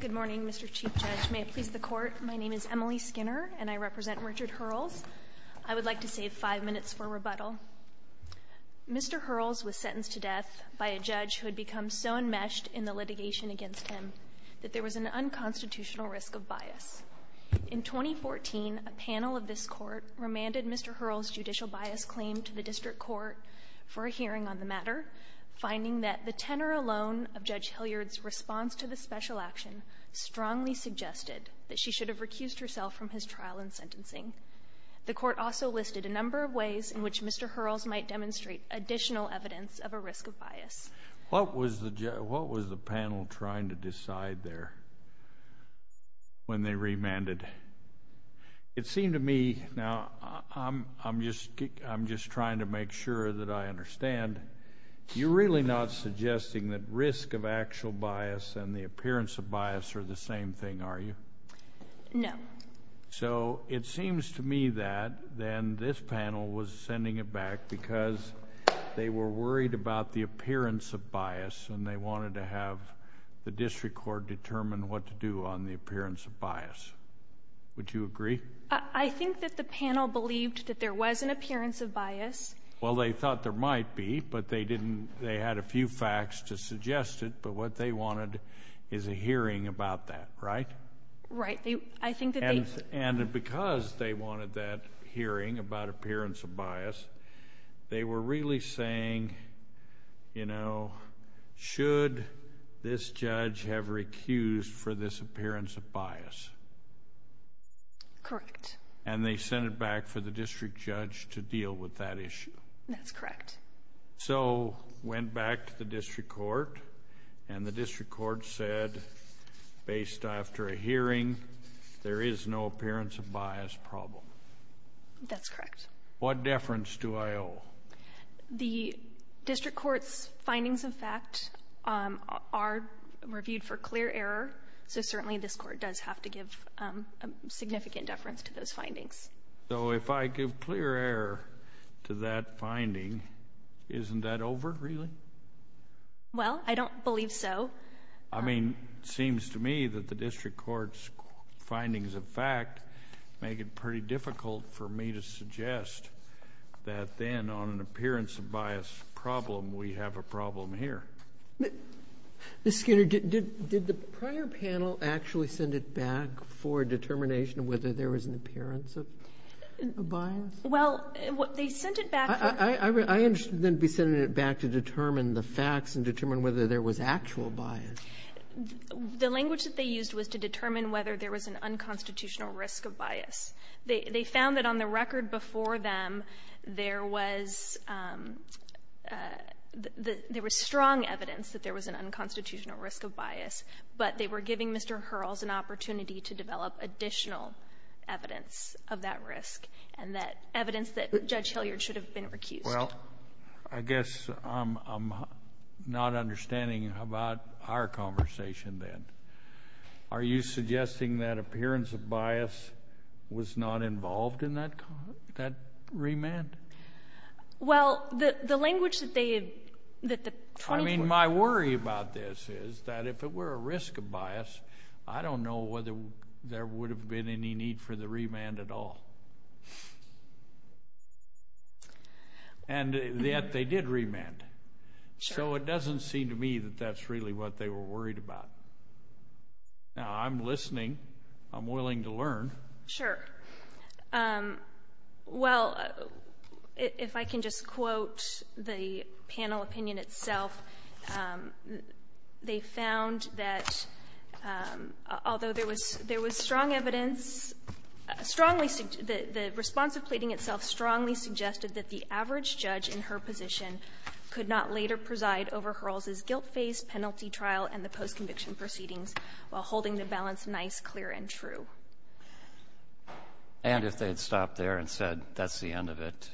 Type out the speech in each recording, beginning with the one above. Good morning, Mr. Chief Judge. May it please the Court, my name is Emily Skinner and I represent Richard Hurles. I would like to save five minutes for rebuttal. Mr. Hurles was sentenced to death by a judge who had become so enmeshed in the litigation against him that there was an unconstitutional risk of bias. In 2014, a panel of this Court remanded Mr. Hurles' judicial bias claim to the District Court for a hearing on the matter, finding that the tenor alone of Judge Hilliard's response to the special action strongly suggested that she should have recused herself from his trial and sentencing. The Court also listed a number of ways in which Mr. Hurles might demonstrate additional evidence of a risk of bias. What was the panel trying to decide there when they remanded? It seemed to me, now I'm just trying to make sure that I understand, you're really not suggesting that risk of actual bias and the appearance of bias are the same thing, are you? No. So it seems to me that then this panel was sending it back because they were worried about the appearance of bias and they wanted to have the District Court determine what to do on the appearance of bias. Would you agree? I think that the panel believed that there was an appearance of bias. Well, they thought there might be, but they didn't, they had a few facts to suggest it, but what they wanted is a hearing about that, right? Right. And because they wanted that hearing about appearance of bias, they were really saying, you know, should this judge have recused for this appearance of bias? Correct. And they sent it back for the District Judge to deal with that issue. That's correct. So went back to the District Court and the District Court said, based after a hearing, there is no appearance of bias problem. That's correct. What deference do I owe? The District Court's findings of fact are reviewed for clear error, so certainly this Court does have to give a significant deference to those findings. So if I give clear error to that finding, isn't that over, really? Well, I don't believe so. I mean, it seems to me that the District Court's findings of fact make it pretty difficult for me to suggest that then on an appearance of bias problem, we have a problem here. Ms. Skinner, did the prior panel actually send it back for determination of whether there was an appearance of bias? Well, they sent it back. I understand they sent it back to determine the facts and determine whether there was actual bias. The language that they used was to determine whether there was an unconstitutional risk of bias. They found that on the record before them, there was strong evidence that there was an unconstitutional risk of bias, but they were giving Mr. Hurrells an opportunity to develop additional evidence of that risk and that evidence that Judge Hilliard should have been recused. Well, I guess I'm not understanding about our conversation then. Are you suggesting that appearance of bias was not involved in that remand? Well, the language that they had... I mean, my worry about this is that if it were a risk of bias, I don't know whether there would have been any need for the remand at all. And yet they did remand. So it doesn't seem to me that that's really what they were worried about. Sure. Well, if I can just quote the panel opinion itself, they found that although there was strong evidence, strongly, the response of pleading itself strongly suggested that the average judge in her position could not later preside over Hurrells' guilt-faced penalty trial and the post-conviction proceedings while holding the balance nice, clear, and true. And if they had stopped there and said, that's the end of it,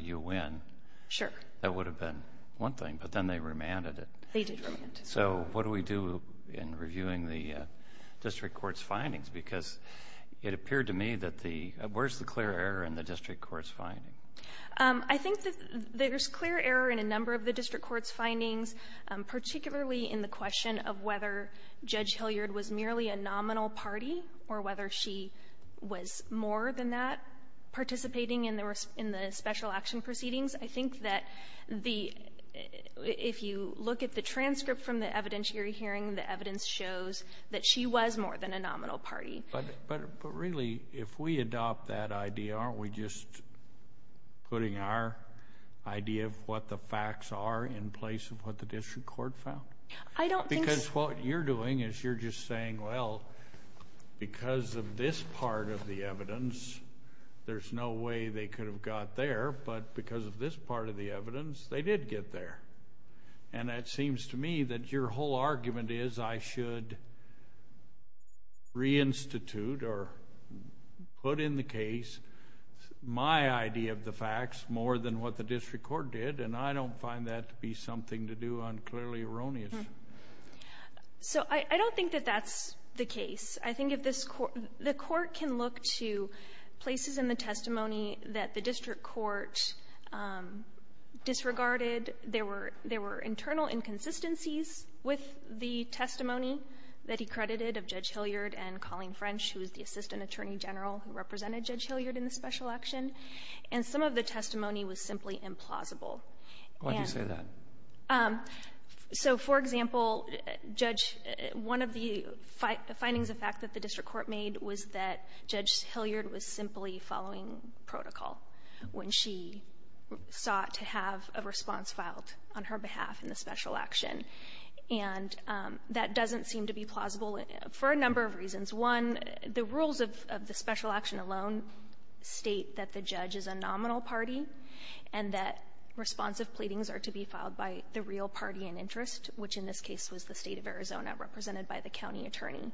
you win. Sure. That would have been one thing, but then they remanded it. They did remand. So what do we do in reviewing the district court's findings? Because it appeared to me that the... Where's the clear error in the district court's findings? I think there's clear error in a number of the district court's findings, particularly in the question of whether Judge Hilliard was merely a nominal party or whether she was more than that participating in the special action proceedings. I think that if you look at the transcript from the evidentiary hearing, the evidence shows that she was more than a nominal party. But really, if we adopt that idea, aren't we just putting our idea of what the facts are in place of what the district court found? Because what you're doing is you're just saying, well, because of this part of the evidence, there's no way they could have got there, but because of this part of the evidence, they did get there. And it seems to me that your whole argument is I should reinstitute or put in the case my idea of the facts more than what the district court did, and I don't find that to be something to do unclearly erroneous. So I don't think that that's the case. I think if this court... The court can look to places in the testimony that the district court disregarded. There were internal inconsistencies with the testimony that he credited of Judge Hilliard and Colleen French, who was the assistant attorney general who represented Judge Hilliard in the special action. And some of the testimony was simply implausible. And... Why do you say that? So, for example, Judge — one of the findings of fact that the district court made was that Judge Hilliard was simply following protocol when she sought to have a response filed on her behalf in the special action. And that doesn't seem to be plausible for a number of reasons. One, the rules of the special action alone state that the judge is a nominal party and that responsive pleadings are to be filed by the real party in interest, which in this case was the State of Arizona, represented by the county attorney.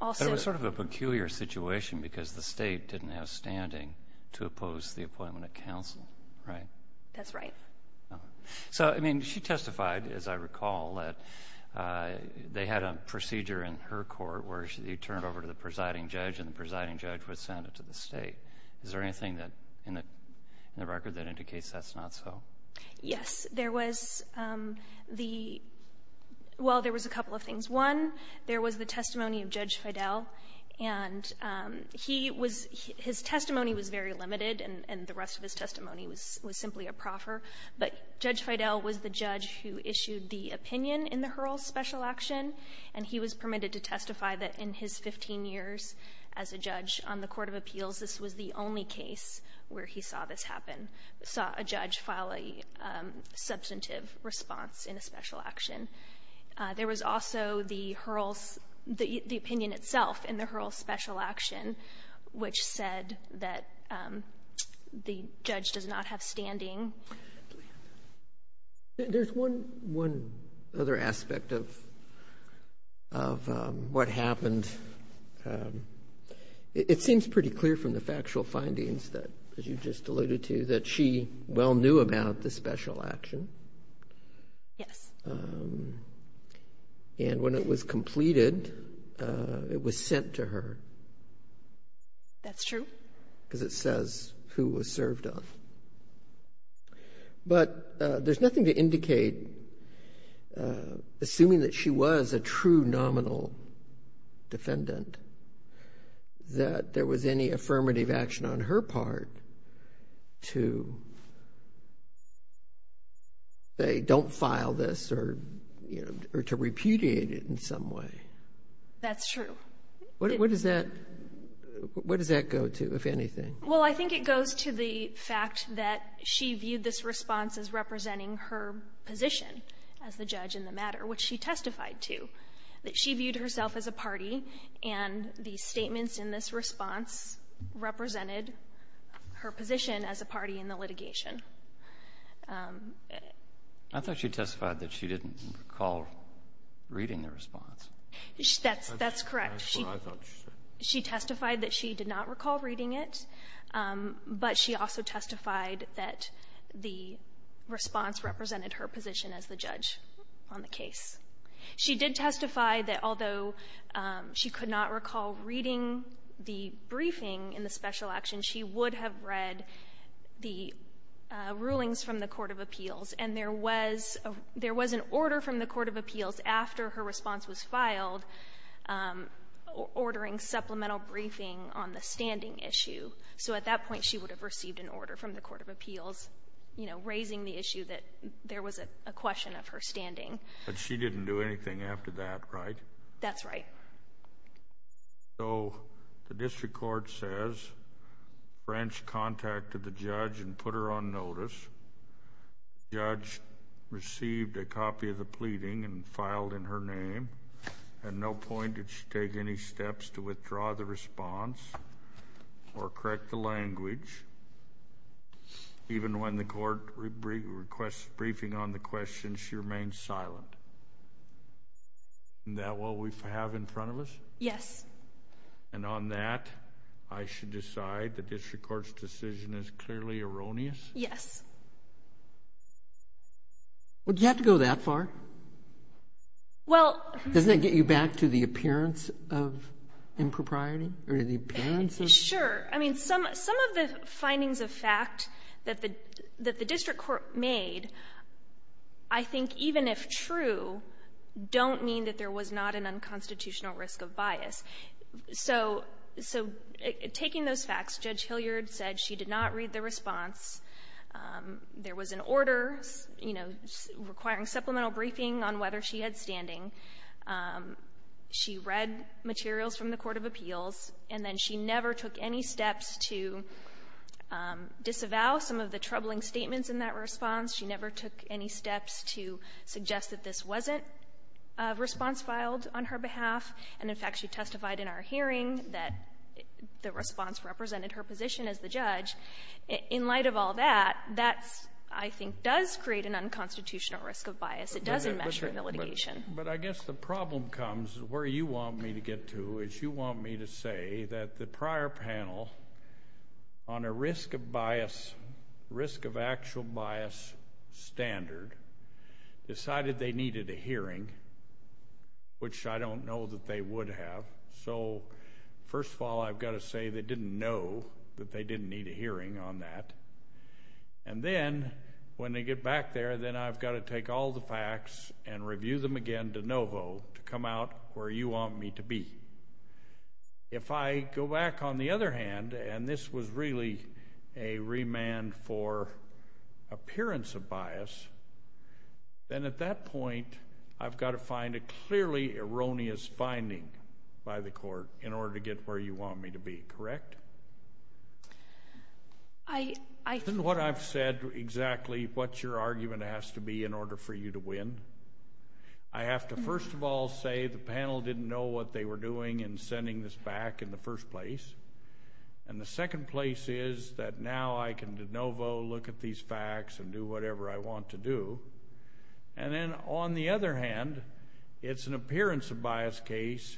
Also... It was sort of a peculiar situation because the State didn't have standing to oppose the appointment of counsel, right? That's right. So, I mean, she testified, as I recall, that they had a procedure in her court where she turned over to the presiding judge and the presiding judge would send it to the State. Is there anything in the record that indicates that's not so? Yes. There was the — well, there was a couple of things. One, there was the testimony of Judge Fidel, and he was — his testimony was very But Judge Fidel was the judge who issued the opinion in the Hurls special action, and he was permitted to testify that in his 15 years as a judge on the Court of Appeals, this was the only case where he saw this happen, saw a judge file a substantive response in a special action. There was also the Hurls — the opinion itself in the Hurls special action, which said that the judge does not have standing. There's one other aspect of what happened. It seems pretty clear from the factual findings that you just alluded to that she well knew about the special action. Yes. And when it was completed, it was sent to her. That's true. Because it says who was served on it. But there's nothing to indicate, assuming that she was a true nominal defendant, that there was any affirmative action on her part to say don't file this or to repudiate it in some way. That's true. What does that go to, if anything? Well, I think it goes to the fact that she viewed this response as representing her position as the judge in the matter, which she testified to, that she viewed herself as a party, and the statements in this response represented her position as a party in the litigation. I thought she testified that she didn't recall reading the response. That's correct. That's what I thought she said. She testified that she did not recall reading it, but she also testified that the response represented her position as the judge on the case. She did testify that although she could not recall reading the briefing in the special action, she would have read the rulings from the court of appeals. And there was an order from the court of appeals, after her response was filed, ordering supplemental briefing on the standing issue. So at that point, she would have received an order from the court of appeals, you know, raising the issue that there was a question of her standing. But she didn't do anything after that, right? That's right. So the district court says French contacted the judge and put her on notice. The judge received a copy of the pleading and filed in her name. At no point did she take any steps to withdraw the response or correct the language. Even when the court requests briefing on the question, she remained silent. Isn't that what we have in front of us? Yes. And on that, I should decide the district court's decision is clearly erroneous? Yes. Well, did you have to go that far? Well. Doesn't that get you back to the appearance of impropriety? Sure. I mean, some of the findings of fact that the district court made, I think even if true, don't mean that there was not an unconstitutional risk of bias. So taking those facts, Judge Hilliard said she did not read the response. There was an order, you know, requiring supplemental briefing on whether she had standing. She read materials from the court of appeals, and then she never took any steps to disavow some of the troubling statements in that response. She never took any steps to suggest that this wasn't a response filed on her behalf. And, in fact, she testified in our hearing that the response represented her position as the judge. In light of all that, that, I think, does create an unconstitutional risk of bias. It doesn't measure the litigation. But I guess the problem comes, where you want me to get to, is you want me to say that the prior panel, on a risk of bias, risk of actual bias standard, decided they needed a hearing, which I don't know that they would have. So, first of all, I've got to say they didn't know that they didn't need a hearing on that. And then, when they get back there, then I've got to take all the facts and review them again de novo to come out where you want me to be. If I go back on the other hand, and this was really a remand for appearance of bias, then at that point, I've got to find a clearly erroneous finding by the court in order to get where you want me to be. Correct? Isn't what I've said exactly what your argument has to be in order for you to win? I have to, first of all, say the panel didn't know what they were doing in sending this back in the first place. And the second place is that now I can de novo look at these facts and do whatever I want to do. And then, on the other hand, it's an appearance of bias case,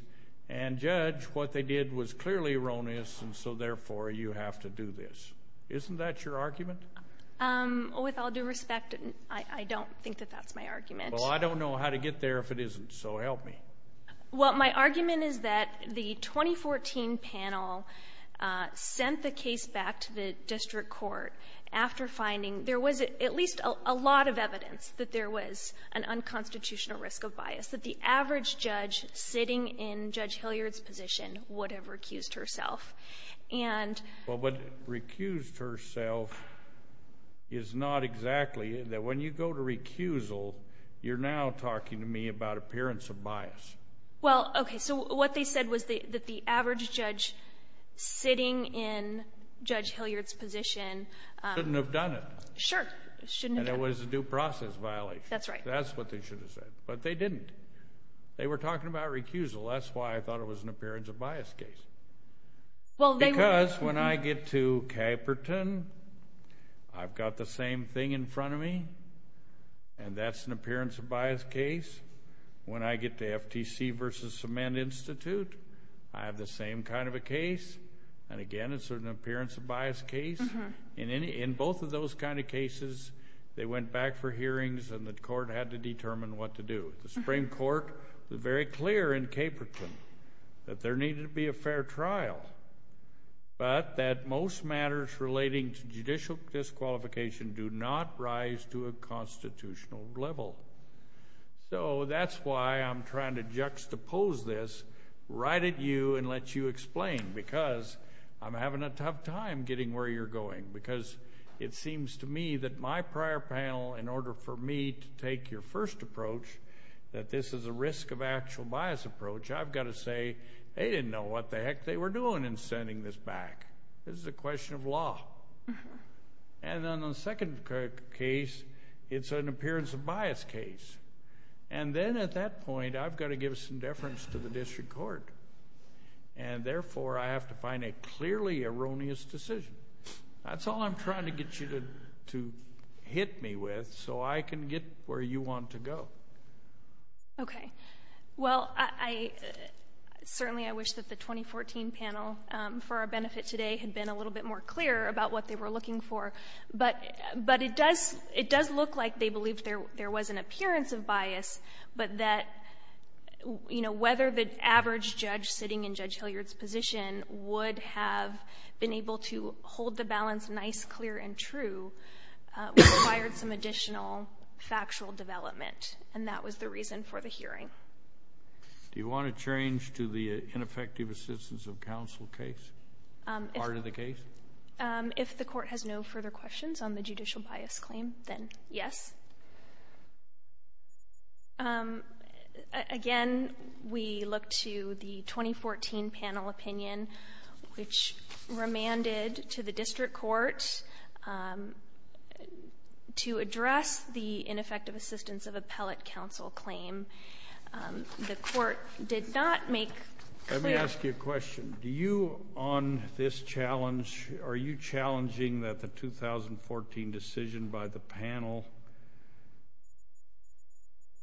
and judge, what they did was clearly erroneous, and so, therefore, you have to do this. Isn't that your argument? With all due respect, I don't think that that's my argument. Well, I don't know how to get there if it isn't, so help me. Well, my argument is that the 2014 panel sent the case back to the district court after finding there was at least a lot of evidence that there was an unconstitutional risk of bias, that the average judge sitting in Judge Hilliard's position would have recused herself. Well, but recused herself is not exactly that. When you go to recusal, you're now talking to me about appearance of bias. Well, okay, so what they said was that the average judge sitting in Judge Hilliard's position... Shouldn't have done it. Sure, shouldn't have done it. And it was a due process violation. That's right. That's what they should have said, but they didn't. They were talking about recusal. That's why I thought it was an appearance of bias case. Because when I get to Caperton, I've got the same thing in front of me, and that's an appearance of bias case. When I get to FTC versus Cement Institute, I have the same kind of a case. And, again, it's an appearance of bias case. In both of those kind of cases, they went back for hearings, and the court had to determine what to do. The Supreme Court was very clear in Caperton that there needed to be a fair trial, but that most matters relating to judicial disqualification do not rise to a constitutional level. So that's why I'm trying to juxtapose this right at you and let you explain, because I'm having a tough time getting where you're going, because it seems to me that my prior panel, in order for me to take your first approach that this is a risk of actual bias approach, I've got to say, they didn't know what the heck they were doing in sending this back. This is a question of law. And then the second case, it's an appearance of bias case. And then at that point, I've got to give some deference to the district court. And, therefore, I have to find a clearly erroneous decision. That's all I'm trying to get you to hit me with so I can get where you want to go. Okay. Well, certainly I wish that the 2014 panel, for our benefit today, had been a little bit more clear about what they were looking for. But it does look like they believed there was an appearance of bias, but that whether the average judge sitting in Judge Hilliard's position would have been able to hold the balance nice, clear, and true, required some additional factual development. And that was the reason for the hearing. Do you want to change to the ineffective assistance of counsel case, part of the case? If the court has no further questions on the judicial bias claim, then yes. Again, we look to the 2014 panel opinion, which remanded to the district court to address the ineffective assistance of appellate counsel claim. The court did not make clear the effectiveness of the appellate counsel claim. Let me ask you a question. Do you, on this challenge, are you challenging that the 2014 decision by the panel,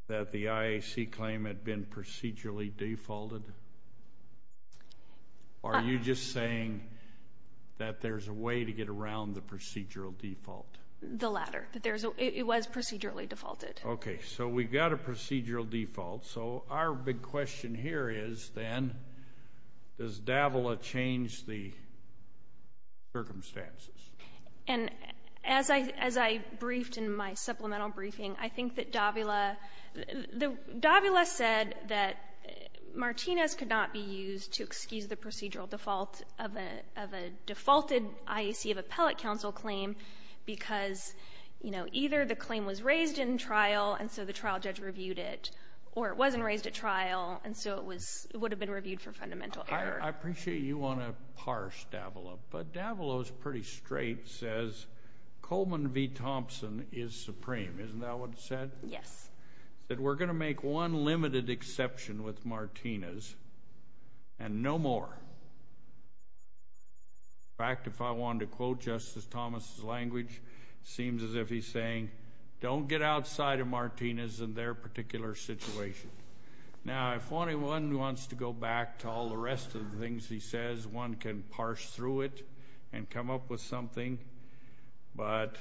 that the IAC claim had been procedurally defaulted? Are you just saying that there's a way to get around the procedural default? The latter. It was procedurally defaulted. Okay. So we've got a procedural default. So our big question here is, then, does Davila change the circumstances? And as I briefed in my supplemental briefing, I think that Davila said that Martinez could not be used to excuse the procedural default of a defaulted IAC of appellate counsel claim because, you know, either the claim was raised in trial and so the trial judge reviewed it, or it wasn't raised at trial and so it would have been reviewed for fundamental error. I appreciate you want to parse Davila, but Davila's pretty straight, says, Coleman v. Thompson is supreme. Isn't that what it said? Yes. It said, we're going to make one limited exception with Martinez and no more. In fact, if I wanted to quote Justice Thomas's language, it seems as if he's saying, don't get outside of Martinez in their particular situation. Now, if one wants to go back to all the rest of the things he says, one can parse through it and come up with something, but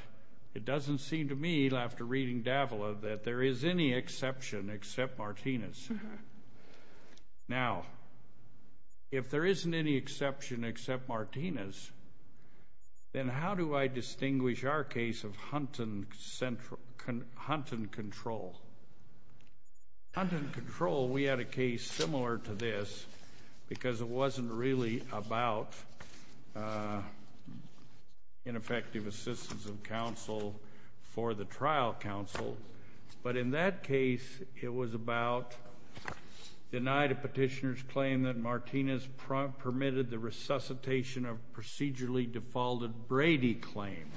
it doesn't seem to me, after reading Davila, that there is any exception except Martinez. Now, if there isn't any exception except Martinez, then how do I distinguish our case of Hunt and Control? Hunt and Control, we had a case similar to this because it wasn't really about ineffective assistance of counsel for the trial counsel, but in that case it was about denied a petitioner's claim that Martinez permitted the resuscitation of procedurally defaulted Brady claim,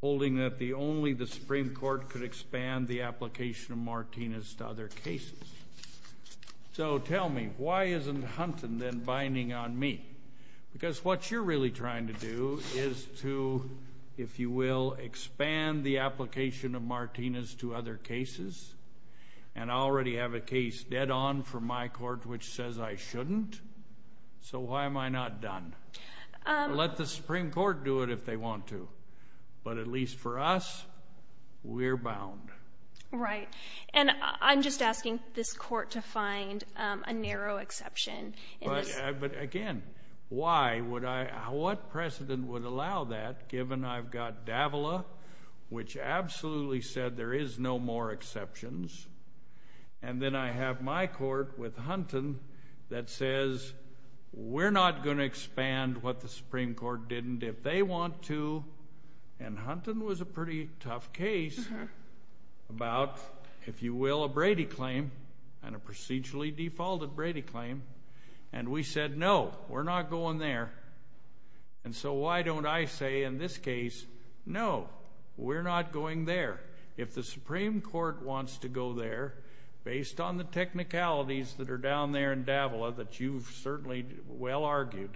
holding that only the Supreme Court could expand the application of Martinez to other cases. So tell me, why isn't Hunt and then binding on me? Because what you're really trying to do is to, if you will, expand the application of Martinez to other cases, and I already have a case dead on from my court which says I shouldn't, so why am I not done? Let the Supreme Court do it if they want to, but at least for us, we're bound. Right, and I'm just asking this court to find a narrow exception. But again, why would I, what precedent would allow that given I've got Davila, which absolutely said there is no more exceptions, and then I have my court with Hunton that says we're not going to expand what the Supreme Court didn't if they want to, and Hunton was a pretty tough case about, if you will, a Brady claim and a procedurally defaulted Brady claim, and we said no, we're not going there, and so why don't I say in this case, no, we're not going there. If the Supreme Court wants to go there, based on the technicalities that are down there in Davila that you've certainly well argued,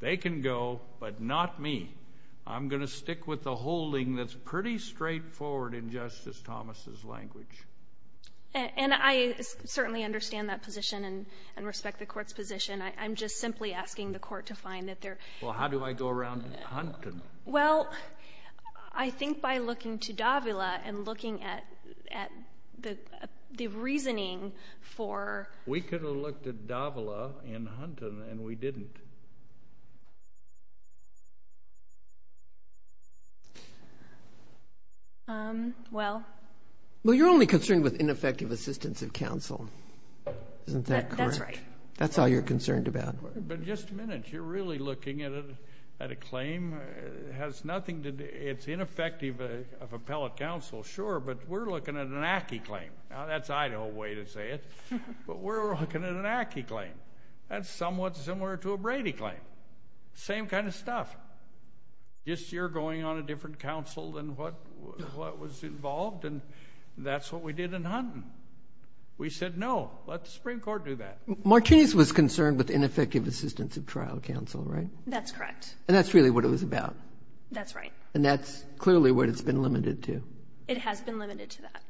they can go, but not me. I'm going to stick with the holding that's pretty straightforward in Justice Thomas's language. And I certainly understand that position and respect the Court's position. I'm just simply asking the Court to find that there — Well, how do I go around Hunton? Well, I think by looking to Davila and looking at the reasoning for — We could have looked at Davila and Hunton, and we didn't. Well — Well, you're only concerned with ineffective assistance of counsel. Isn't that correct? That's right. That's all you're concerned about. But just a minute. You're really looking at a claim? It has nothing to do — it's ineffective of appellate counsel, sure, but we're looking at an ACCI claim. Now, that's Idaho way to say it, but we're looking at an ACCI claim. That's somewhat similar to a Brady claim. Same kind of stuff. Just you're going on a different counsel than what was involved, and that's what we did in Hunton. We said, no, let the Supreme Court do that. Martinez was concerned with ineffective assistance of trial counsel, right? That's correct. And that's really what it was about? That's right. And that's clearly what it's been limited to? It has been limited to that,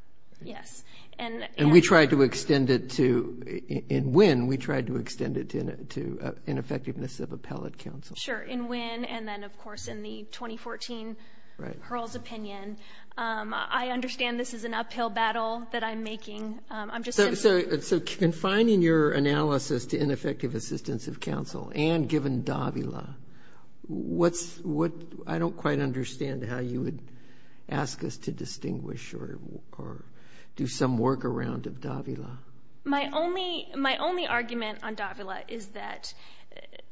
yes. And we tried to extend it to — in Winn, we tried to extend it to ineffectiveness of appellate counsel. Sure. In Winn and then, of course, in the 2014 Hurl's opinion. I understand this is an uphill battle that I'm making. So confining your analysis to ineffective assistance of counsel and given Davila, what's — I don't quite understand how you would ask us to distinguish or do some workaround of Davila. My only — my only argument on Davila is that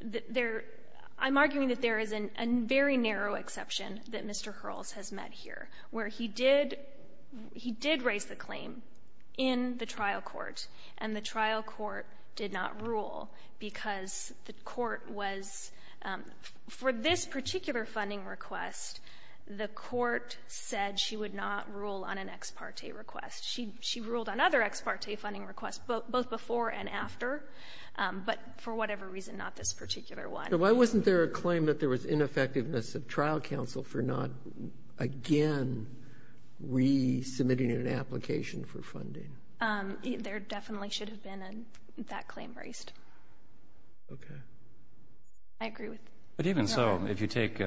there — I'm arguing that there is a very narrow exception that Mr. Hurl's has met here, where he did — he did raise the claim in the trial court and the trial court did not rule because the court was — for this particular funding request, the court said she would not rule on an ex parte request. She ruled on other ex parte funding requests, both before and after, but for whatever reason, not this particular one. So why wasn't there a claim that there was ineffectiveness of trial counsel for not again resubmitting an application for funding? There definitely should have been that claim raised. Okay. I agree with — But even so, if you take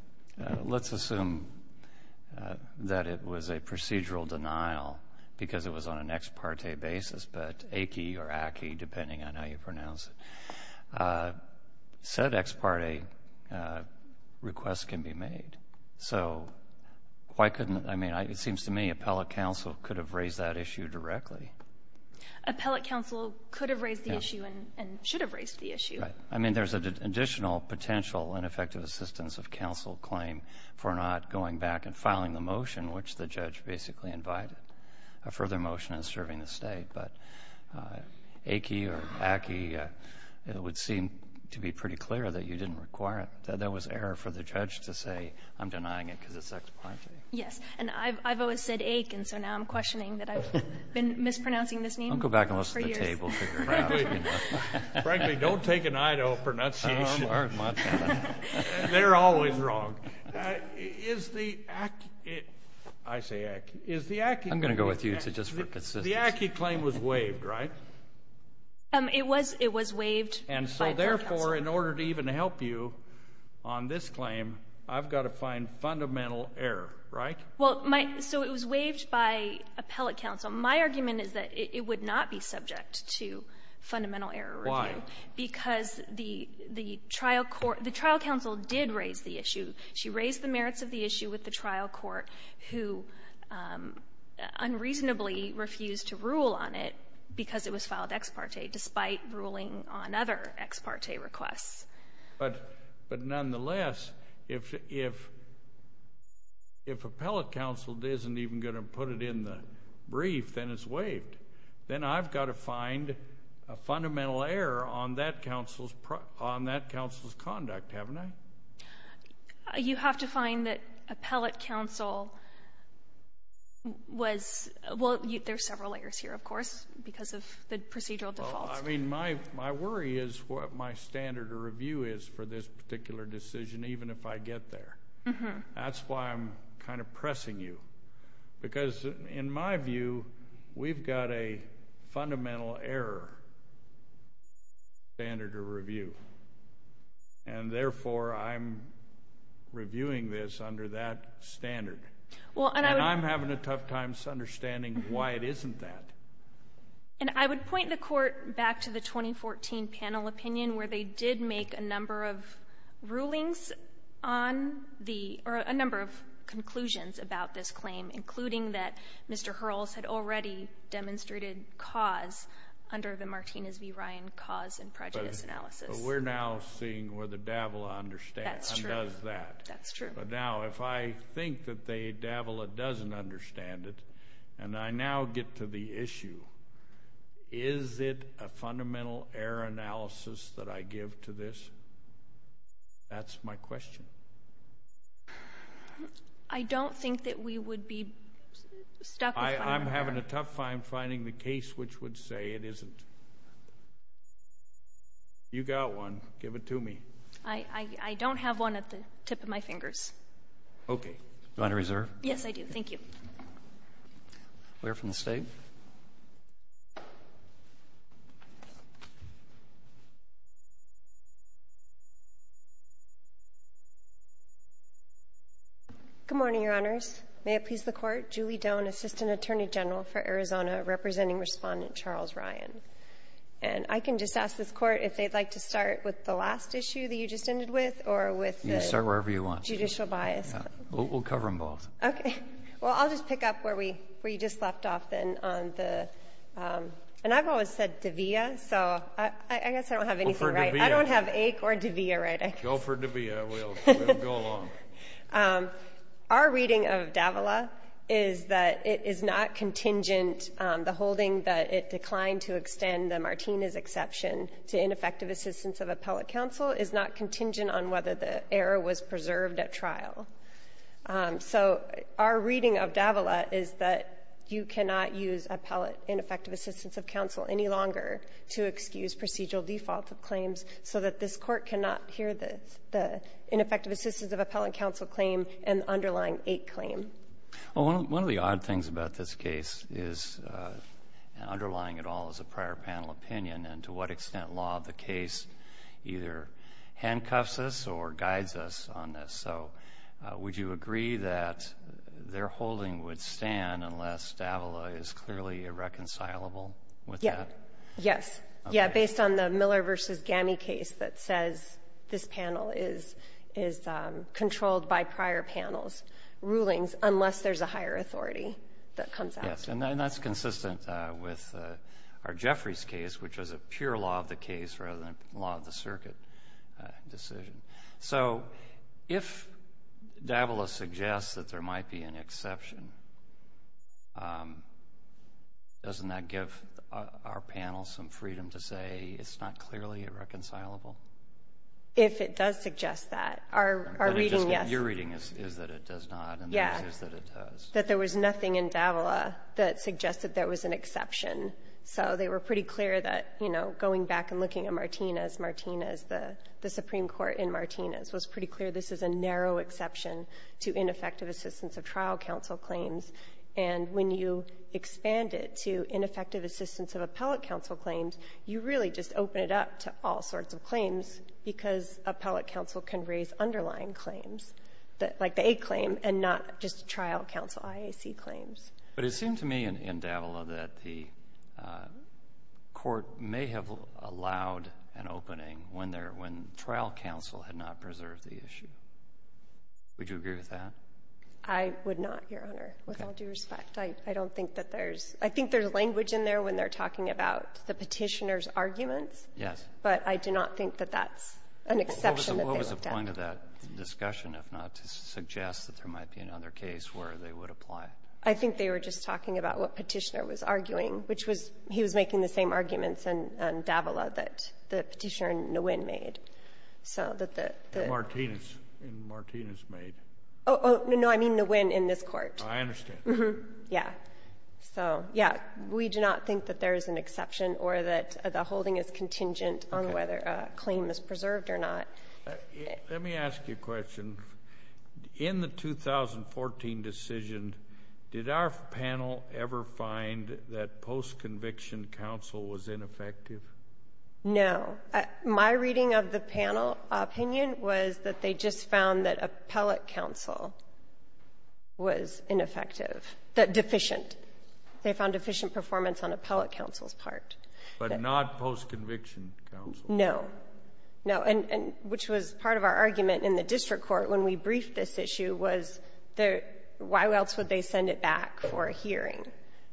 — let's assume that it was a procedural denial because it was on an ex parte basis, but AKI or AKI, depending on how you pronounce it, said ex parte requests can be made. So why couldn't — I mean, it seems to me appellate counsel could have raised that issue directly. Appellate counsel could have raised the issue and should have raised the issue. Right. I mean, there's an additional potential ineffective assistance of counsel claim for not going back and filing the motion, which the judge basically invited. A further motion is serving the state, but AKI or AKI, it would seem to be pretty clear that you didn't require it, that there was error for the judge to say, I'm denying it because it's ex parte. Yes. And I've always said AK, and so now I'm questioning that I've been mispronouncing this name for years. Don't go back and listen to the table figure out. Frankly, don't take an eye to a pronunciation. They're always wrong. Is the — I say AKI. Is the AKI — I'm going to go with you just for consistency. The AKI claim was waived, right? It was waived by court counsel. And so, therefore, in order to even help you on this claim, I've got to find fundamental error, right? Well, my — so it was waived by appellate counsel. My argument is that it would not be subject to fundamental error review. Why? Because the trial court — the trial counsel did raise the issue. She raised the merits of the issue with the trial court, who unreasonably refused to rule on it because it was filed ex parte, despite ruling on other ex parte requests. But nonetheless, if appellate counsel isn't even going to put it in the brief, then it's waived. Then I've got to find a fundamental error on that counsel's conduct, haven't I? You have to find that appellate counsel was — well, there are several errors here, of course, because of the procedural defaults. Well, I mean, my worry is what my standard of review is for this particular decision, even if I get there. That's why I'm kind of pressing you. Because in my view, we've got a fundamental error standard of review. And therefore, I'm reviewing this under that standard. And I'm having a tough time understanding why it isn't that. And I would point the Court back to the 2014 panel opinion, where they did make a number of rulings on the — or a number of conclusions about this claim, including that Mr. Hurls had already demonstrated cause under the Martinez v. Ryan cause and prejudice analysis. But we're now seeing whether Davila understands and does that. That's true. That's true. But now, if I think that Davila doesn't understand it, and I now get to the issue, is it a fundamental error analysis that I give to this? That's my question. I don't think that we would be stuck — I'm having a tough time finding the case which would say it isn't. You got one. Give it to me. I don't have one at the tip of my fingers. Okay. Do you want to reserve? Yes, I do. Thank you. Clear from the State. Good morning, Your Honors. May it please the Court. Julie Doan, Assistant Attorney General for Arizona, representing Respondent Charles Ryan. And I can just ask this Court if they'd like to start with the last issue that you just ended with or with the judicial bias. You can start wherever you want. We'll cover them both. Okay. Well, I'll just pick up where we — where you just left off, then, on the — and I've always said Davila, so I guess I don't have anything right. Go for Davila. I don't have Aik or Davila right, I guess. Go for Davila. We'll go along. Our reading of Davila is that it is not contingent — the holding that it declined to extend the Martinez exception to ineffective assistance of appellate counsel is not contingent on whether the error was preserved at trial. So our reading of Davila is that you cannot use ineffective assistance of counsel any longer to excuse procedural default of claims so that this Court cannot hear the ineffective assistance of appellate counsel claim and underlying Aik claim. Well, one of the odd things about this case is — and underlying it all is a prior panel opinion, and to what extent law of the case either handcuffs us or guides us on this. So would you agree that their holding would stand unless Davila is clearly irreconcilable with that? Yes. Yes. Okay. I agree on the Miller v. Gamme case that says this panel is controlled by prior panels' rulings unless there's a higher authority that comes out. Yes. And that's consistent with our Jeffries case, which was a pure law of the case rather than a law of the circuit decision. So if Davila suggests that there might be an exception, doesn't that give our panel some freedom to say it's not clearly irreconcilable? If it does suggest that. Our reading, yes. But your reading is that it does not, and theirs is that it does. Yes. That there was nothing in Davila that suggested there was an exception. So they were pretty clear that, you know, going back and looking at Martinez, Martinez, the Supreme Court in Martinez, was pretty clear this is a narrow exception to ineffective assistance of trial counsel claims. And when you expand it to ineffective assistance of appellate counsel claims, you really just open it up to all sorts of claims because appellate counsel can raise underlying claims, like the aid claim, and not just trial counsel IAC claims. But it seemed to me in Davila that the Court may have allowed an opening when trial counsel had not preserved the issue. Would you agree with that? I would not, Your Honor. With all due respect, I don't think that there's – I think there's language in there when they're talking about the Petitioner's arguments. Yes. But I do not think that that's an exception that they looked at. What was the point of that discussion, if not to suggest that there might be another case where they would apply it? I think they were just talking about what Petitioner was arguing, which was he was making the same arguments in Davila that the Petitioner in Nguyen made. So that the – In Martinez. In Martinez made. Oh, no, I mean Nguyen in this Court. I understand. Yes. So, yes, we do not think that there is an exception or that the holding is contingent on whether a claim is preserved or not. Let me ask you a question. In the 2014 decision, did our panel ever find that post-conviction counsel was ineffective? No. My reading of the panel opinion was that they just found that appellate counsel was ineffective, deficient. They found deficient performance on appellate counsel's part. But not post-conviction counsel. No. No. And which was part of our argument in the district court when we briefed this issue was why else would they send it back for a hearing?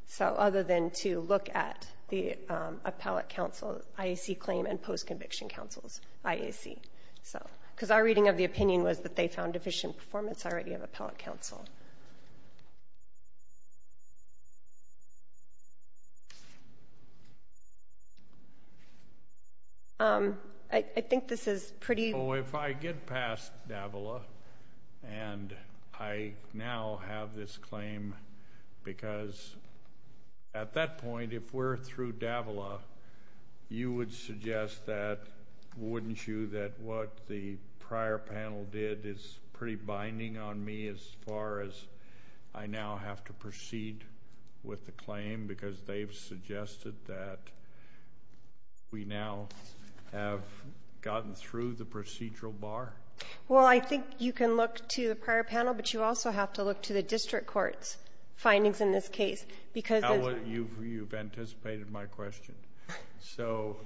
So, other than to look at the appellate counsel IAC claim and post-conviction counsel's IAC. So, because our reading of the opinion was that they found deficient performance already of appellate counsel. I think this is pretty – at that point, if we're through Davila, you would suggest that, wouldn't you, that what the prior panel did is pretty binding on me as far as I now have to proceed with the claim because they've suggested that we now have gotten through the procedural bar? Well, I think you can look to the prior panel, but you also have to look to the district court's findings in this case. Now you've anticipated my question. So,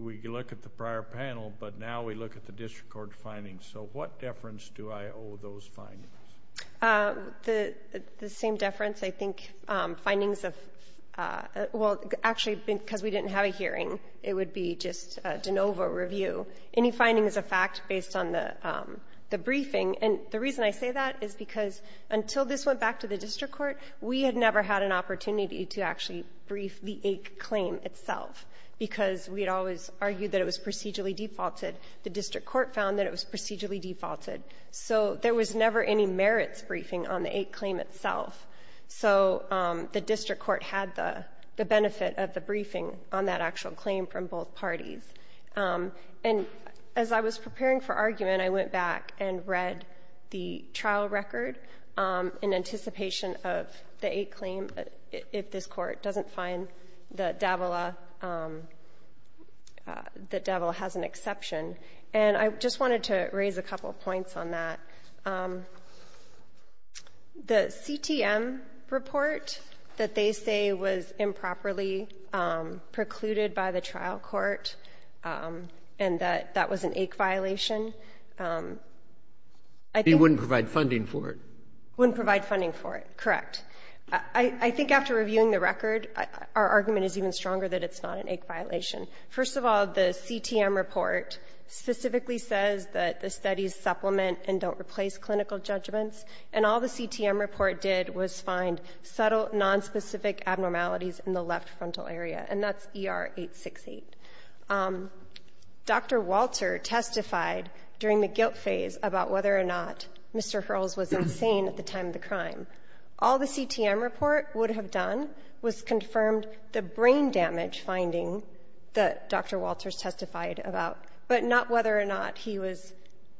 we look at the prior panel, but now we look at the district court findings. So, what deference do I owe those findings? The same deference, I think, findings of – well, actually, because we didn't have a hearing. It would be just de novo review. Any finding is a fact based on the briefing. And the reason I say that is because until this went back to the district court, we had never had an opportunity to actually brief the AIC claim itself because we had always argued that it was procedurally defaulted. The district court found that it was procedurally defaulted. So there was never any merits briefing on the AIC claim itself. So the district court had the benefit of the briefing on that actual claim from both parties. And as I was preparing for argument, I went back and read the trial record in anticipation of the AIC claim, if this Court doesn't find that Davila – that Davila has an exception. And I just wanted to raise a couple of points on that. The CTM report that they say was improperly precluded by the trial court and that that was an AIC violation, I think – It wouldn't provide funding for it. It wouldn't provide funding for it. Correct. I think after reviewing the record, our argument is even stronger that it's not an AIC violation. First of all, the CTM report specifically says that the studies supplement and don't replace clinical judgments. And all the CTM report did was find subtle, nonspecific abnormalities in the left frontal area. And that's ER 868. Dr. Walter testified during the guilt phase about whether or not Mr. Hurls was insane at the time of the crime. All the CTM report would have done was confirmed the brain damage finding that Dr. Walter was insane, whether or not he was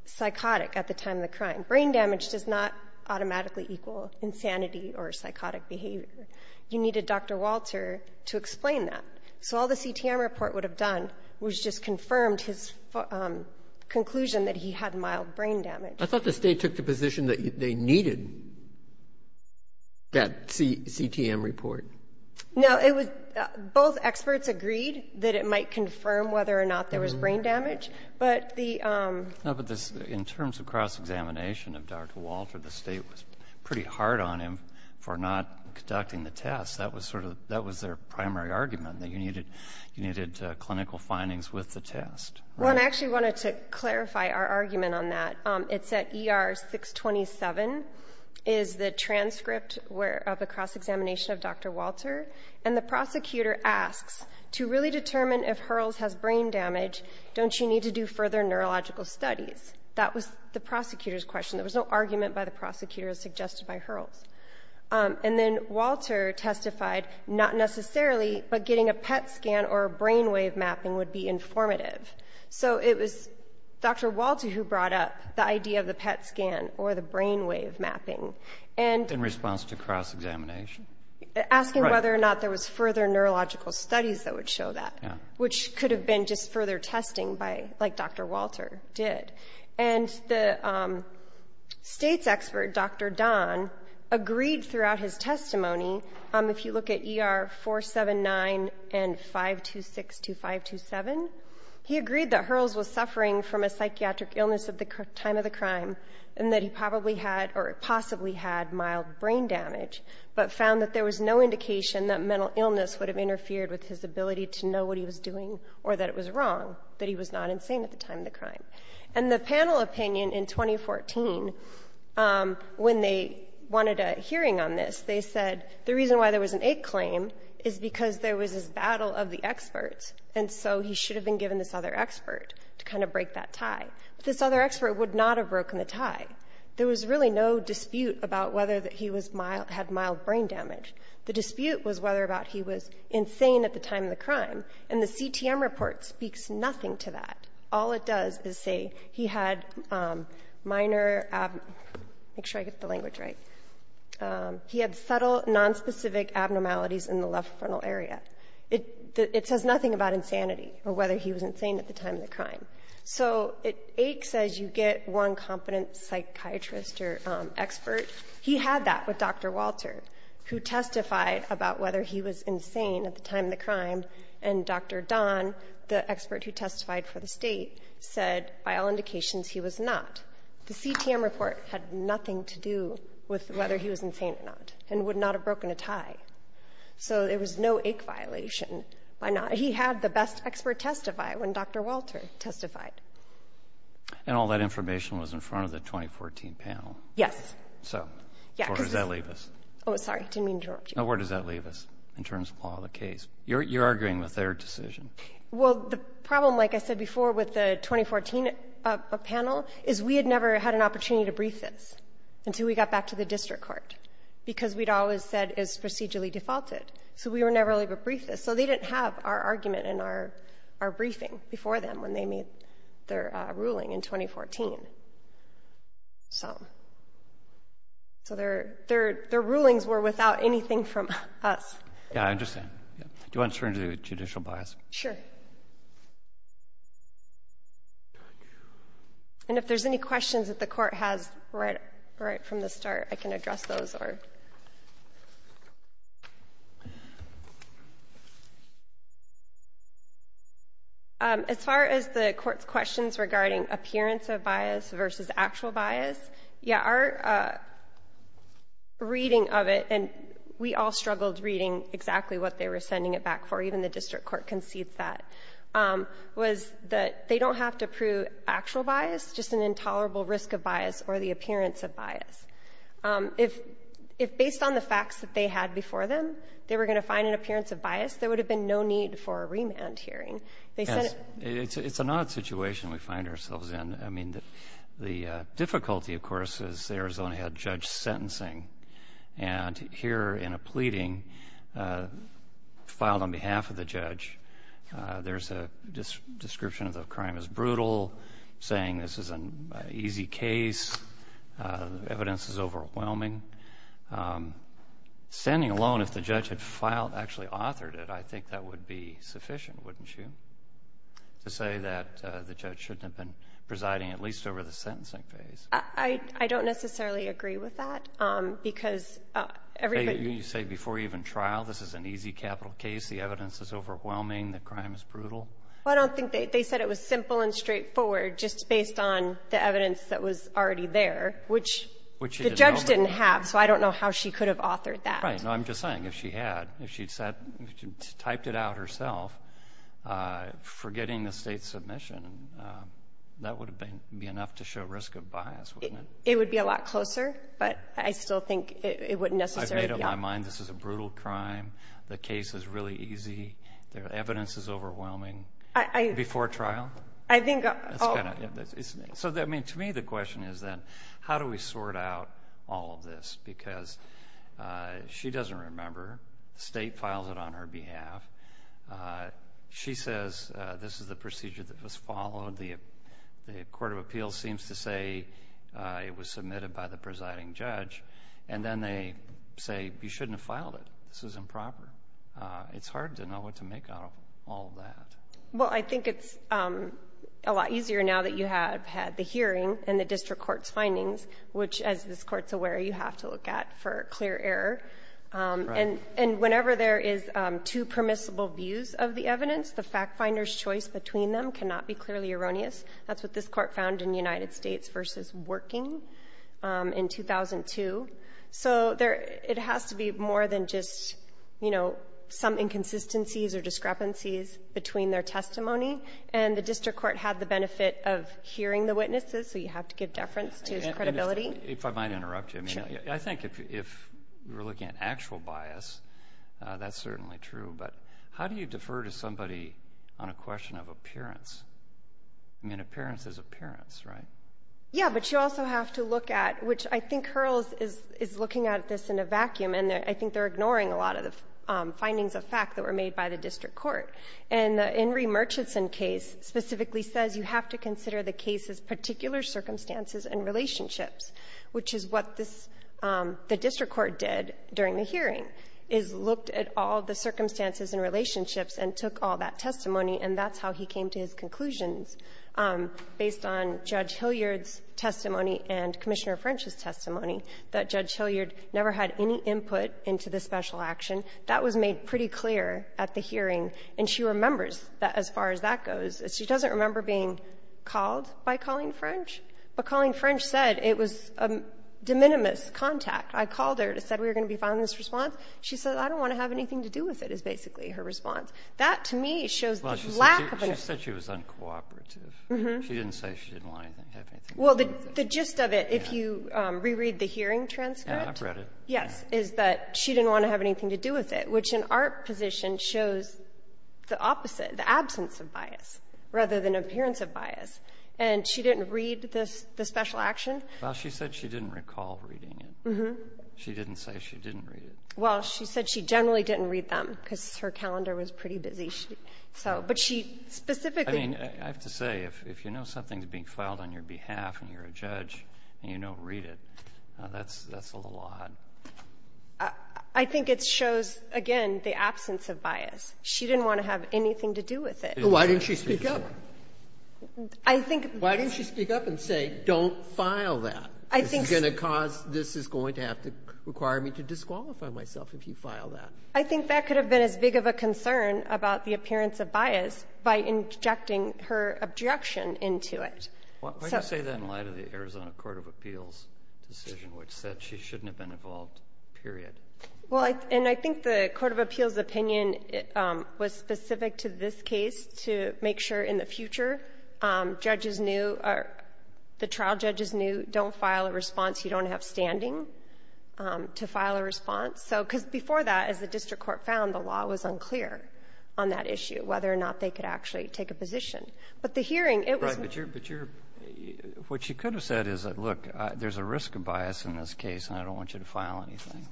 psychotic at the time of the crime. Brain damage does not automatically equal insanity or psychotic behavior. You needed Dr. Walter to explain that. So all the CTM report would have done was just confirmed his conclusion that he had mild brain damage. I thought the State took the position that they needed that CTM report. No. It was – both experts agreed that it might confirm whether or not there was brain damage. But the – No, but this – in terms of cross-examination of Dr. Walter, the State was pretty hard on him for not conducting the test. That was sort of – that was their primary argument, that you needed clinical findings with the test. Well, and I actually wanted to clarify our argument on that. It's that ER 627 is the transcript of a cross-examination of Dr. Walter. And the prosecutor asks, to really determine if Hurls has brain damage, don't you need to do further neurological studies? That was the prosecutor's question. There was no argument by the prosecutor as suggested by Hurls. And then Walter testified, not necessarily, but getting a PET scan or a brain wave mapping would be informative. So it was Dr. Walter who brought up the idea of the PET scan or the brain wave mapping. And – In response to cross-examination? Right. Asking whether or not there was further neurological studies that would show that. Yeah. Which could have been just further testing by – like Dr. Walter did. And the State's expert, Dr. Don, agreed throughout his testimony, if you look at ER 479 and 526 to 527, he agreed that Hurls was suffering from a psychiatric illness at the time of the crime and that he probably had or possibly had mild brain damage, but found that there was no indication that mental illness would have interfered with his ability to know what he was doing or that it was wrong, that he was not insane at the time of the crime. And the panel opinion in 2014, when they wanted a hearing on this, they said the reason why there was an egg claim is because there was this battle of the experts, and so he should have been given this other expert to kind of break that tie. But this other expert would not have broken the tie. There was really no dispute about whether he had mild brain damage. The dispute was whether or not he was insane at the time of the crime. And the CTM report speaks nothing to that. All it does is say he had minor – make sure I get the language right – he had subtle, nonspecific abnormalities in the left frontal area. It says nothing about insanity or whether he was insane at the time of the crime. So it aches as you get one competent psychiatrist or expert. He had that with Dr. Walter, who testified about whether he was insane at the time of the crime. And Dr. Don, the expert who testified for the State, said by all indications he was not. The CTM report had nothing to do with whether he was insane or not and would not have broken a tie. So there was no ache violation by not – he had the best expert testify when Dr. Walter testified. And all that information was in front of the 2014 panel. Yes. So where does that leave us? Oh, sorry. I didn't mean to interrupt you. Where does that leave us in terms of all the case? You're arguing with their decision. Well, the problem, like I said before, with the 2014 panel is we had never had an opportunity to brief this until we got back to the district court, because we'd always said it was procedurally defaulted. So we were never able to brief this. So they didn't have our argument and our briefing before them when they made their ruling in 2014. So their rulings were without anything from us. Yeah, I understand. Do you want to turn to judicial bias? Sure. And if there's any questions that the Court has right from the start, I can address those. As far as the Court's questions regarding appearance of bias versus actual bias, yeah, our reading of it, and we all struggled reading exactly what they were sending it back for, even the district court concedes that, was that they don't have to prove actual bias, just an intolerable risk of bias or the appearance of bias. If based on the facts that they had before them, they were going to find an appearance of bias, there would have been no need for a remand hearing. Yes. It's an odd situation we find ourselves in. I mean, the difficulty, of course, is Arizona had judge sentencing. And here in a pleading filed on behalf of the judge, there's a description of the crime as brutal, saying this is an easy case, evidence is overwhelming. Standing alone, if the judge had filed, actually authored it, I think that would be sufficient, wouldn't you, to say that the judge shouldn't have been presiding at least over the sentencing phase? I don't necessarily agree with that, because everybody You say before even trial, this is an easy capital case, the evidence is overwhelming, the crime is brutal? Well, I don't think they said it was simple and straightforward just based on the So I don't know how she could have authored that. Right. No, I'm just saying, if she had, if she'd typed it out herself, forgetting the state submission, that would be enough to show risk of bias, wouldn't it? It would be a lot closer, but I still think it wouldn't necessarily be enough. I've made up my mind this is a brutal crime, the case is really easy, the evidence is overwhelming, before trial? I think So, I mean, to me the question is then, how do we sort out all of this? Because she doesn't remember, the state files it on her behalf, she says this is the procedure that was followed, the court of appeals seems to say it was submitted by the presiding judge, and then they say you shouldn't have filed it, this is improper. It's hard to know what to make out of all that. Well, I think it's a lot easier now that you have had the hearing and the district court's findings, which, as this Court's aware, you have to look at for clear error. And whenever there is two permissible views of the evidence, the fact finder's choice between them cannot be clearly erroneous. That's what this Court found in United States v. Working in 2002. So there, it has to be more than just, you know, some inconsistencies or discrepancies between their testimony. And the district court had the benefit of hearing the witnesses, so you have to give deference to its credibility. If I might interrupt you. Sure. I think if we're looking at actual bias, that's certainly true, but how do you defer to somebody on a question of appearance? I mean, appearance is appearance, right? Yeah, but you also have to look at, which I think Hurls is looking at this in a vacuum, and I think they're ignoring a lot of the findings of fact that were made by the district court. And the In re. Murchison case specifically says you have to consider the case's particular circumstances and relationships, which is what this the district court did during the hearing, is looked at all the circumstances and relationships and took all that testimony, and that's how he came to his conclusions, based on Judge Hilliard's testimony and Commissioner French's testimony, that Judge Hilliard never had any input into the special action. That was made pretty clear at the hearing. And she remembers that, as far as that goes. She doesn't remember being called by Colleen French, but Colleen French said it was a de minimis contact. I called her and said we were going to be filing this response. She said, I don't want to have anything to do with it, is basically her response. That, to me, shows the lack of an answer. Well, she said she was uncooperative. She didn't say she didn't want to have anything to do with it. Well, the gist of it, if you reread the hearing transcript. Yeah, I've read it. Yes, is that she didn't want to have anything to do with it, which in our position shows the opposite, the absence of bias, rather than appearance of bias. And she didn't read the special action. Well, she said she didn't recall reading it. Mm-hmm. She didn't say she didn't read it. Well, she said she generally didn't read them, because her calendar was pretty busy. So, but she specifically. I mean, I have to say, if you know something's being filed on your behalf and you're a judge and you don't read it, that's a little odd. I think it shows, again, the absence of bias. She didn't want to have anything to do with it. Why didn't she speak up? I think. Why didn't she speak up and say, don't file that? I think. This is going to cause this is going to have to require me to disqualify myself if you file that. I think that could have been as big of a concern about the appearance of bias by injecting her objection into it. Why do you say that in light of the Arizona Court of Appeals' decision, which said she shouldn't have been involved, period? Well, and I think the Court of Appeals' opinion was specific to this case to make sure in the future judges knew or the trial judges knew, don't file a response you don't have standing to file a response. So, because before that, as the district court found, the law was unclear on that issue, whether or not they could actually take a position. But the hearing, it was. Right. But you're, what you could have said is, look, there's a risk of bias in this case and I don't want you to file anything.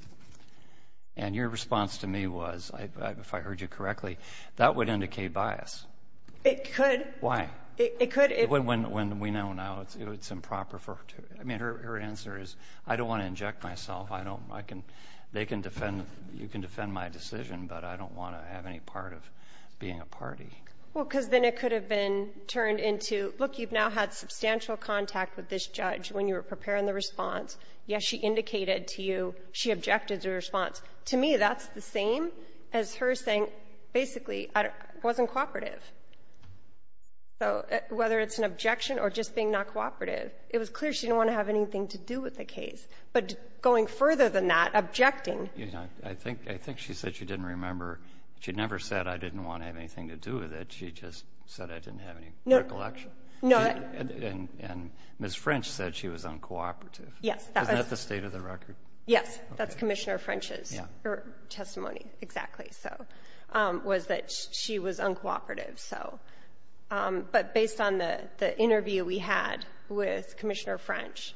And your response to me was, if I heard you correctly, that would indicate bias. It could. Why? It could. When we know now it's improper for, I mean, her answer is, I don't want to inject myself. I don't, I can, they can defend, you can defend my decision, but I don't want to have any part of being a party. Well, because then it could have been turned into, look, you've now had substantial contact with this judge when you were preparing the response. Yes, she indicated to you she objected to the response. To me, that's the same as her saying, basically, I wasn't cooperative. So whether it's an objection or just being not cooperative, it was clear she didn't want to have anything to do with the case. But going further than that, objecting. I think, I think she said she didn't remember. She never said I didn't want to have anything to do with it. She just said I didn't have any recollection. No. And Ms. French said she was uncooperative. Yes. Isn't that the state of the record? Yes. That's Commissioner French's testimony. Exactly. So, was that she was uncooperative. So, but based on the interview we had with Commissioner French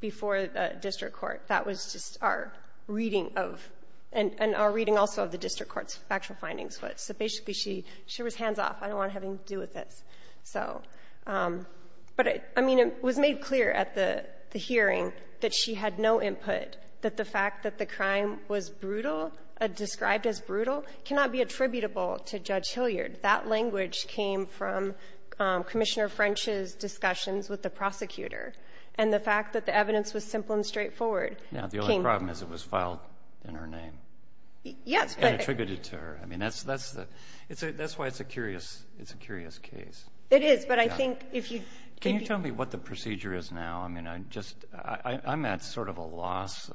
before the district court, that was just our reading of, and our reading also of the district court's factual findings. So basically, she was hands off. I don't want to have anything to do with this. So, but, I mean, it was made clear at the hearing that she had no input, that the fact that the crime was brutal, described as brutal, cannot be attributable to Judge Hilliard. That language came from Commissioner French's discussions with the prosecutor. And the fact that the evidence was simple and straightforward came. Now, the only problem is it was filed in her name. Yes, but. And attributed to her. I mean, that's why it's a curious case. It is, but I think if you. Can you tell me what the procedure is now? I mean, I'm at sort of a loss.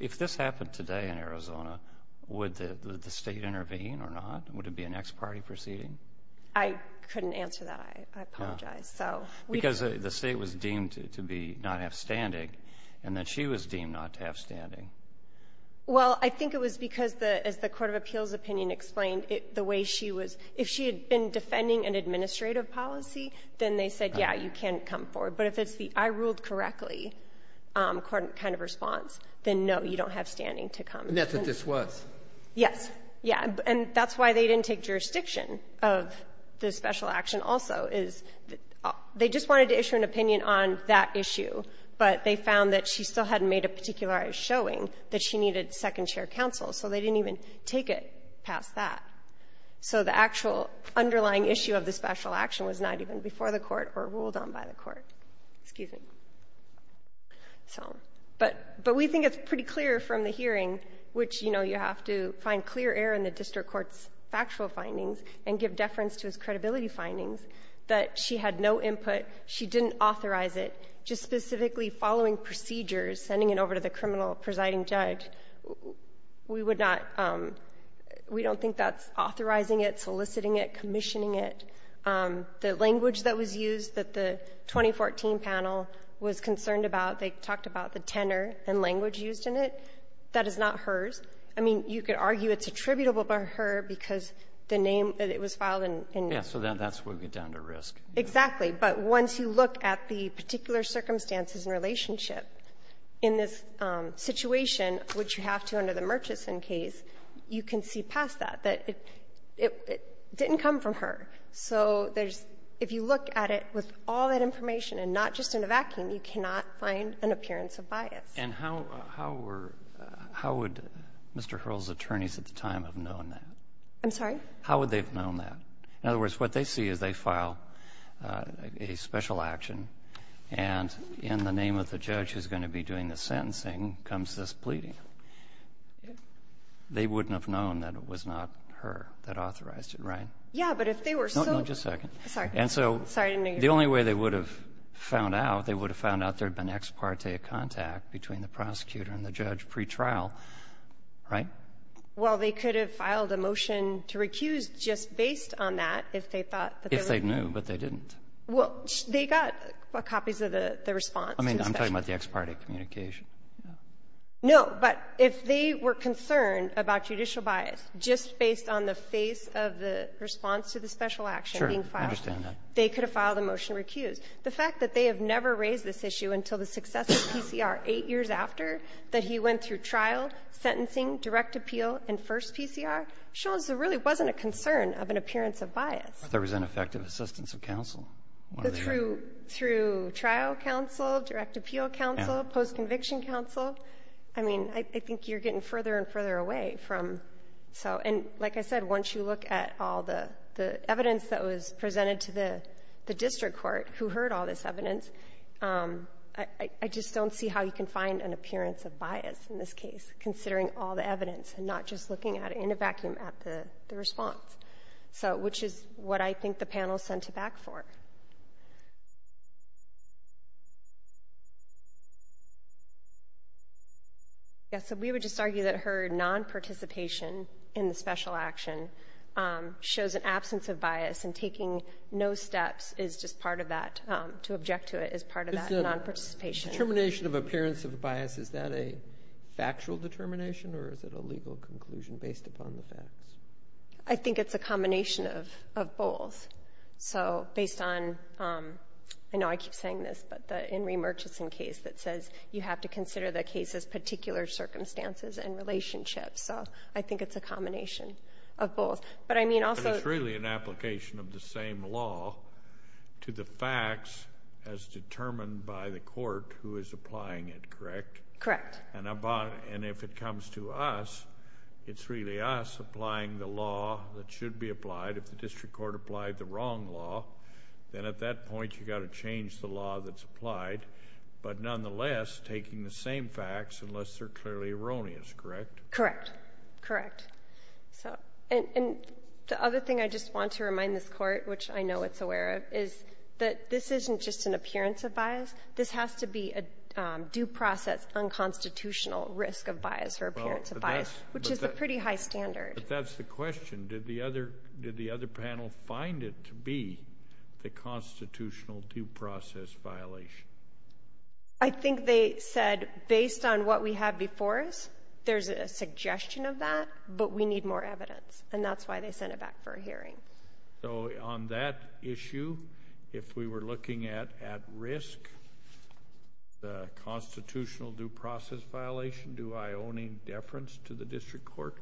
If this happened today in Arizona, would the state intervene or not? Would it be an ex parte proceeding? I couldn't answer that. I apologize. So we. Because the State was deemed to be not have standing, and that she was deemed not to have standing. Well, I think it was because the, as the court of appeals opinion explained, the way she was. If she had been defending an administrative policy, then they said, yeah, you can come forward. But if it's the I ruled correctly kind of response, then no, you don't have standing to come. Not that this was. Yes. Yeah. And that's why they didn't take jurisdiction of the special action also, is they just wanted to issue an opinion on that issue. But they found that she still hadn't made a particular showing that she needed second chair counsel. So they didn't even take it past that. So the actual underlying issue of the special action was not even before the Court or ruled on by the Court. Excuse me. So. But we think it's pretty clear from the hearing, which, you know, you have to find clear error in the district court's factual findings and give deference to its credibility findings, that she had no input. She didn't authorize it. Just specifically following procedures, sending it over to the criminal presiding judge, we would not we don't think that's authorizing it, soliciting it, commissioning it. The language that was used that the 2014 panel was concerned about, they talked about the tenor and language used in it. That is not hers. I mean, you could argue it's attributable by her because the name that it was filed in. Yeah. So that's where we get down to risk. Exactly. But once you look at the particular circumstances and relationship in this situation, which you have to under the Murchison case, you can see past that, that it didn't come from her. So there's — if you look at it with all that information and not just in a vacuum, you cannot find an appearance of bias. And how were — how would Mr. Hurrell's attorneys at the time have known that? I'm sorry? How would they have known that? In other words, what they see is they file a special action, and in the name of the judge who's going to be doing the sentencing comes this pleading. They wouldn't have known that it was not her that authorized it, right? Yeah, but if they were so — No, no, just a second. Sorry. Sorry, I didn't hear you. And so the only way they would have found out, they would have found out there had been an ex parte contact between the prosecutor and the judge pretrial, right? Well, they could have filed a motion to recuse just based on that, if they thought that they were — If they knew, but they didn't. Well, they got copies of the response. I mean, I'm talking about the ex parte communication. No, but if they were concerned about judicial bias, just based on the face of the response to the special action being filed, they could have filed a motion to recuse. The fact that they have never raised this issue until the success of PCR, eight years after that he went through trial, sentencing, direct appeal, and first PCR, shows there really wasn't a concern of an appearance of bias. But there was an effective assistance of counsel. Through trial counsel, direct appeal counsel, post-conviction counsel. I mean, I think you're getting further and further away from — so, and like I said, once you look at all the evidence that was presented to the district court, who had heard all this evidence, I just don't see how you can find an appearance of bias in this case, considering all the evidence, and not just looking at it in a vacuum at the response. So, which is what I think the panel sent it back for. Yes, so we would just argue that her non-participation in the special action shows an absence of bias, and taking no steps is just part of that, to object to it, is part of that non-participation. Determination of appearance of bias, is that a factual determination, or is it a legal conclusion based upon the facts? I think it's a combination of both. So, based on — I know I keep saying this, but the Enri Murchison case that says you have to consider the case's particular circumstances and relationships. So, I think it's a combination of both. But I mean also — But it's really an application of the same law to the facts as determined by the court who is applying it, correct? Correct. And if it comes to us, it's really us applying the law that should be applied. If the district court applied the wrong law, then at that point you've got to change the law that's applied. But nonetheless, taking the same facts, unless they're clearly erroneous, correct? Correct. Correct. And the other thing I just want to remind this Court, which I know it's aware of, is that this isn't just an appearance of bias. This has to be a due process, unconstitutional risk of bias or appearance of bias, which is a pretty high standard. But that's the question. Did the other panel find it to be the constitutional due process violation? I think they said, based on what we have before us, there's a suggestion of that, but we need more evidence. And that's why they sent it back for a hearing. So, on that issue, if we were looking at risk, the constitutional due process violation, do I owe any deference to the district court?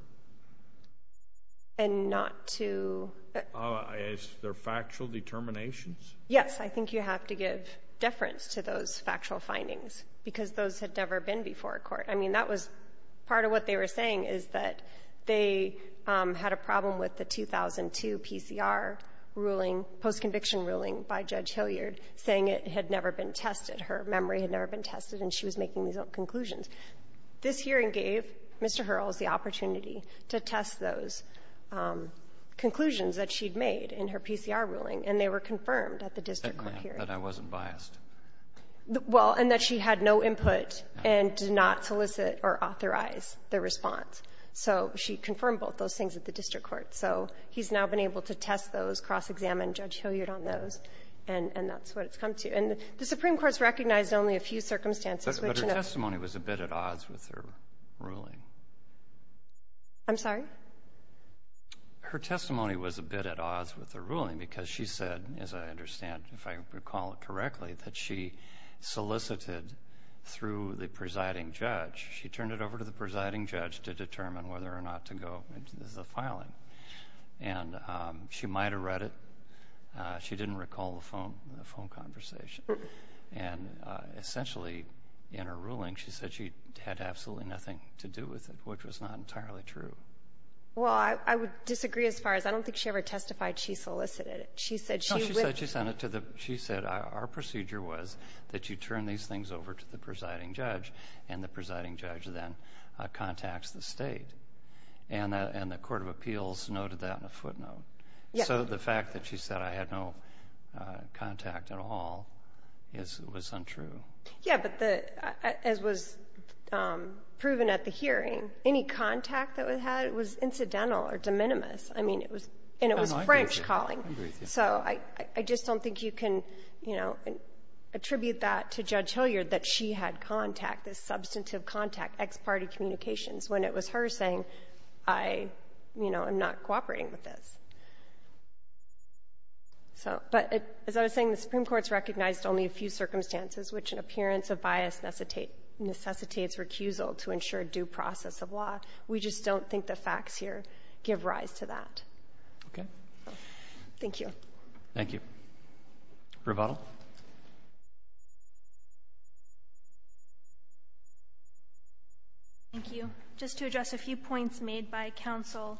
And not to — Is there factual determinations? Yes. I think you have to give deference to those factual findings, because those had never been before a court. I mean, that was — part of what they were saying is that they had a problem with the 2002 PCR ruling, post-conviction ruling by Judge Hilliard, saying it had never been tested. Her memory had never been tested, and she was making these conclusions. This hearing gave Mr. Hurrells the opportunity to test those conclusions that she'd made in her PCR ruling, and they were confirmed at the district court hearing. That I wasn't biased. Well, and that she had no input and did not solicit or authorize the response. So she confirmed both those things at the district court. So he's now been able to test those, cross-examine Judge Hilliard on those, and that's what it's come to. And the Supreme Court's recognized only a few circumstances, which — But her testimony was a bit at odds with her ruling. I'm sorry? Her testimony was a bit at odds with her ruling because she said, as I understand, if I recall correctly, that she solicited through the presiding judge. She turned it over to the presiding judge to determine whether or not to go into the filing. And she might have read it. She didn't recall the phone conversation. And essentially, in her ruling, she said she had absolutely nothing to do with it, which was not entirely true. Well, I would disagree as far as I don't think she ever testified she solicited it. She said she — No, she said she sent it to the — she said our procedure was that you turn these things over to the presiding judge, and the presiding judge then contacts the state. And the court of appeals noted that in a footnote. Yes. So the fact that she said, I had no contact at all, was untrue. Yeah. But the — as was proven at the hearing, any contact that was had was incidental or de minimis. I mean, it was — and it was French calling. So I just don't think you can, you know, attribute that to Judge Hilliard, that she had contact, this substantive contact, ex parte communications, when it was her saying, I, you know, am not cooperating with this. So — but as I was saying, the Supreme Court's recognized only a few circumstances which an appearance of bias necessitates recusal to ensure due process of law. We just don't think the facts here give rise to that. Okay. Thank you. Thank you. Rebuttal. Thank you. Just to address a few points made by counsel,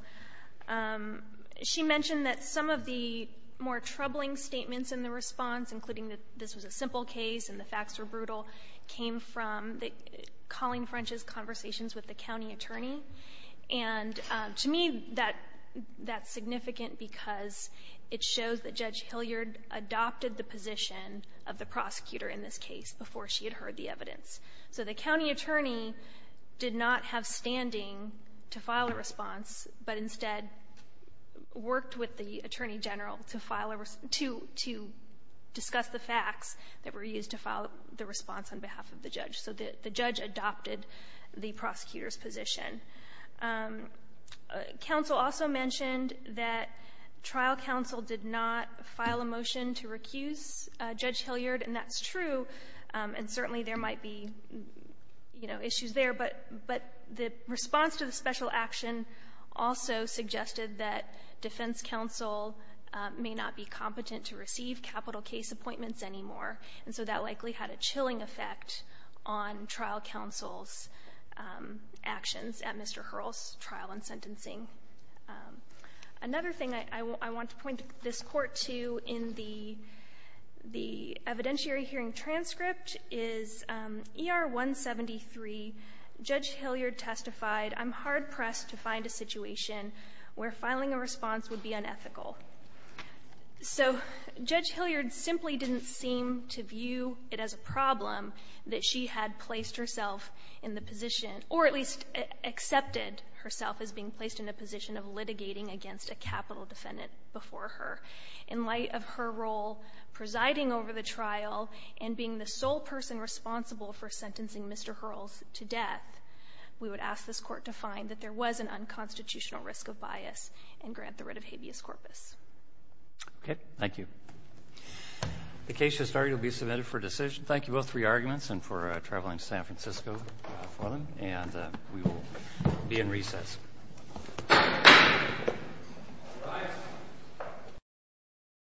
she mentioned that some of the more troubling statements in the response, including that this was a simple case and the facts were brutal, came from Colleen French's conversations with the county attorney. And to me, that's significant because it shows that Judge Hilliard adopted the position of the prosecutor in this case before she had heard the evidence. So the county attorney did not have standing to file a response, but instead worked with the attorney general to file a — to discuss the facts that were used to file the response on behalf of the judge. So the judge adopted the prosecutor's position. Counsel also mentioned that trial counsel did not file a motion to recuse Judge Hilliard, and that's true, and certainly there might be, you know, issues there. But the response to the special action also suggested that defense counsel may not be competent to receive capital case appointments anymore, and so that likely had a significant impact at Mr. Hurrell's trial and sentencing. Another thing I want to point this Court to in the evidentiary hearing transcript is ER 173, Judge Hilliard testified, I'm hard-pressed to find a situation where filing a response would be unethical. So Judge Hilliard simply didn't seem to view it as a problem that she had placed herself in the position, or at least accepted herself as being placed in a position of litigating against a capital defendant before her. In light of her role presiding over the trial and being the sole person responsible for sentencing Mr. Hurrell to death, we would ask this Court to find that there was an unconstitutional risk of bias and grant the writ of habeas corpus. Okay. Thank you. The case has started. You'll be submitted for decision. Thank you both for your arguments and for traveling to San Francisco for them. And we will be in recess.